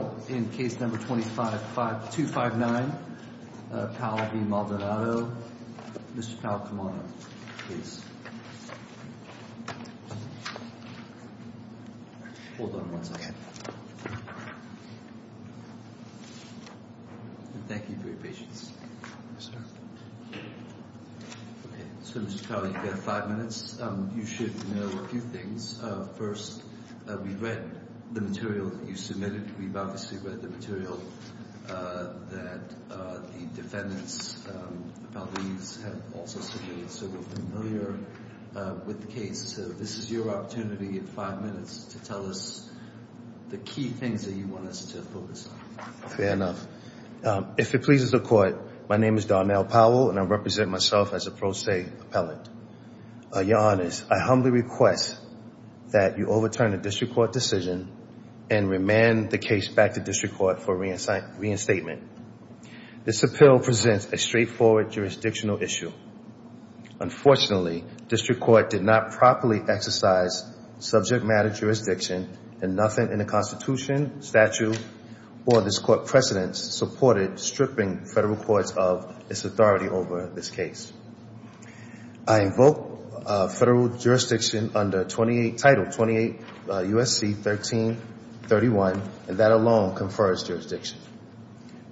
Mr. Powell, in case number 259, Powell v. Maldonado. Mr. Powell, come on up, please. Hold on one second. Thank you for your patience. So, Mr. Powell, you have five minutes. You should know a few things. First, we read the material that you submitted. We've obviously read the material that the defendants have also submitted. So we're familiar with the case. So this is your opportunity in five minutes to tell us the key things that you want us to focus on. Fair enough. If it pleases the Court, my name is Darnell Powell, and I represent myself as a pro se appellant. Your Honors, I humbly request that you overturn the District Court decision and remand the case back to District Court for reinstatement. This appeal presents a straightforward jurisdictional issue. Unfortunately, District Court did not properly exercise subject matter jurisdiction, and nothing in the Constitution, statute, or this Court precedent supported stripping federal courts of its authority over this case. I invoke federal jurisdiction under Title 28 U.S.C. 1331, and that alone confers jurisdiction.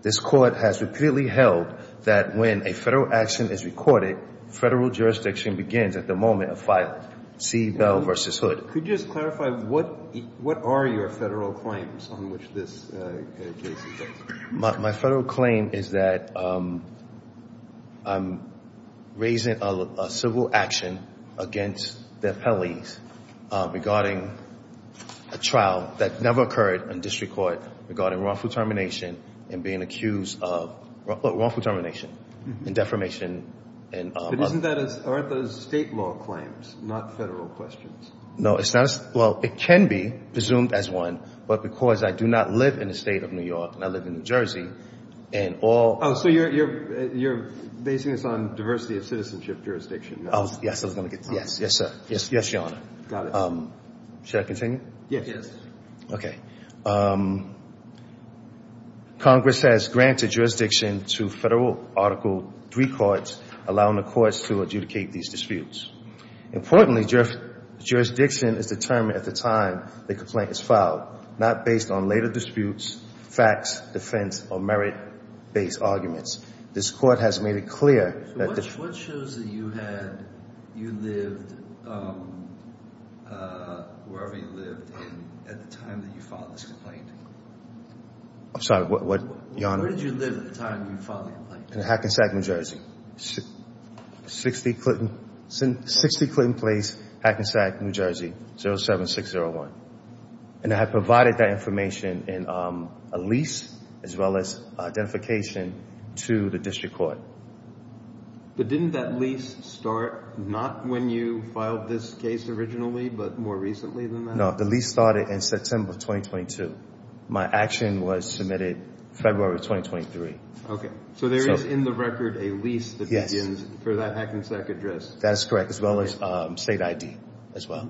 This Court has repeatedly held that when a federal action is recorded, federal jurisdiction begins at the moment of filing. See Bell v. Hood. Could you just clarify what are your federal claims on which this case exists? My federal claim is that I'm raising a civil action against the appellees regarding a trial that never occurred in District Court regarding wrongful termination and being accused of wrongful termination and defamation. But aren't those state law claims, not federal questions? No, it's not. Well, it can be presumed as one, but because I do not live in the state of New York, and I live in New Jersey, and all Oh, so you're basing this on diversity of citizenship jurisdiction. Oh, yes. Yes, sir. Yes, Your Honor. Got it. Should I continue? Yes. Okay. Congress has granted jurisdiction to federal Article III courts, allowing the courts to adjudicate these disputes. Importantly, jurisdiction is determined at the time the complaint is filed, not based on later disputes, facts, defense, or merit-based arguments. This Court has made it clear that the So what shows that you had, you lived, wherever you lived at the time that you filed this complaint? I'm sorry, Your Honor. Where did you live at the time you filed the complaint? In Hackensack, New Jersey. 60 Clinton Place, Hackensack, New Jersey, 07601. And I provided that information in a lease as well as identification to the district court. But didn't that lease start not when you filed this case originally, but more recently than that? No, the lease started in September of 2022. My action was submitted February of 2023. Okay. So there is in the record a lease that begins for that Hackensack address? That is correct, as well as state ID as well.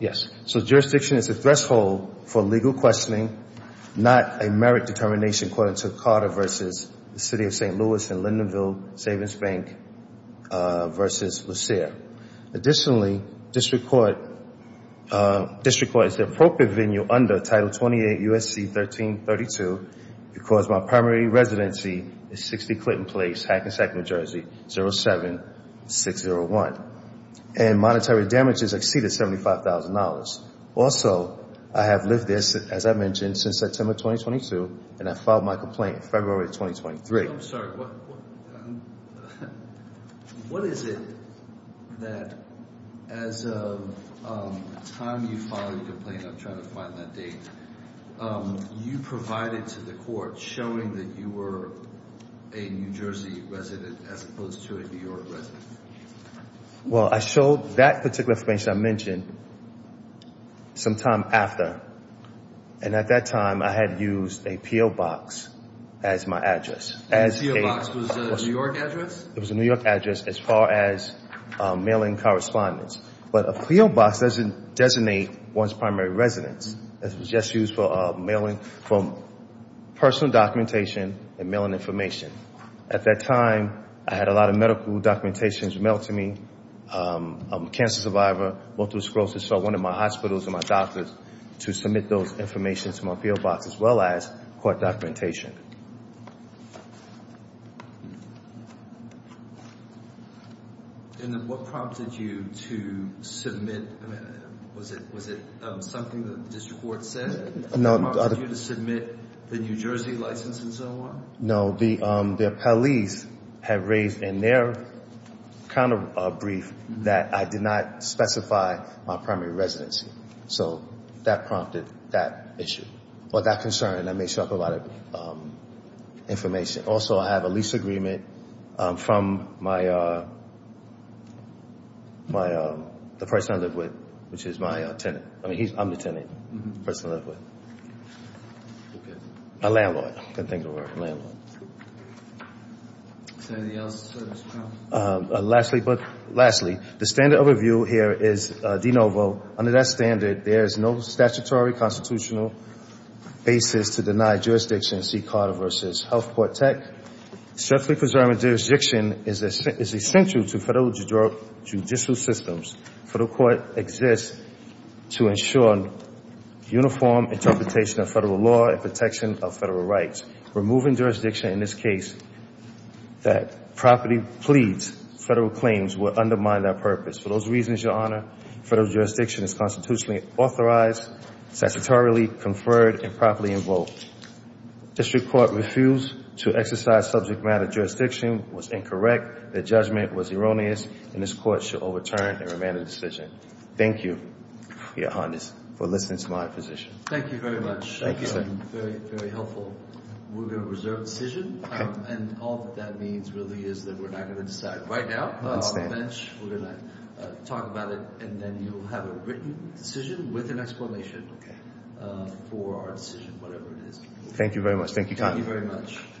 Yes. So jurisdiction is a threshold for legal questioning, not a merit determination, according to Carter v. City of St. Louis and Lindenville Savings Bank v. Lucere. Additionally, district court is the appropriate venue under Title 28 U.S.C. 1332 because my primary residency is 60 Clinton Place, Hackensack, New Jersey, 07601. And monetary damages exceed $75,000. Also, I have lived there, as I mentioned, since September 2022, and I filed my complaint in February of 2023. I'm sorry. What is it that as of the time you filed your complaint, I'm trying to find that date, you provided to the court showing that you were a New Jersey resident as opposed to a New York resident? Well, I showed that particular information I mentioned sometime after. And at that time, I had used a P.O. Box as my address. And the P.O. Box was a New York address? It was a New York address as far as mailing correspondence. But a P.O. Box doesn't designate one's primary residence. It was just used for mailing personal documentation and mailing information. At that time, I had a lot of medical documentations mailed to me. I'm a cancer survivor, went through sclerosis, so I wanted my hospitals and my doctors to submit those information to my P.O. Box as well as court documentation. And what prompted you to submit? I mean, was it something that the district court said? No. What prompted you to submit the New Jersey license and so on? No, the police had raised in their kind of brief that I did not specify my primary residency. So that prompted that issue or that concern, and that may show up a lot of information. Also, I have a lease agreement from the person I live with, which is my tenant. I mean, I'm the tenant, the person I live with. Okay. My landlord. I couldn't think of a landlord. Is there anything else? Lastly, the standard overview here is de novo. Under that standard, there is no statutory constitutional basis to deny jurisdiction in C. Carter v. Health Court Tech. Strictly preserving jurisdiction is essential to federal judicial systems. Federal court exists to ensure uniform interpretation of federal law and protection of federal rights. Removing jurisdiction in this case that properly pleads federal claims will undermine that purpose. For those reasons, Your Honor, federal jurisdiction is constitutionally authorized, statutory conferred, and properly invoked. District court refused to exercise subject matter jurisdiction, was incorrect, the judgment was erroneous, and this court shall overturn and remand the decision. Thank you, Your Honor, for listening to my position. Thank you very much. Thank you, sir. Very helpful. We're going to reserve the decision, and all that that means really is that we're not going to decide right now on the bench. We're going to talk about it, and then you'll have a written decision with an explanation for our decision, whatever it is. Thank you very much. Thank you, Connie. Thank you very much.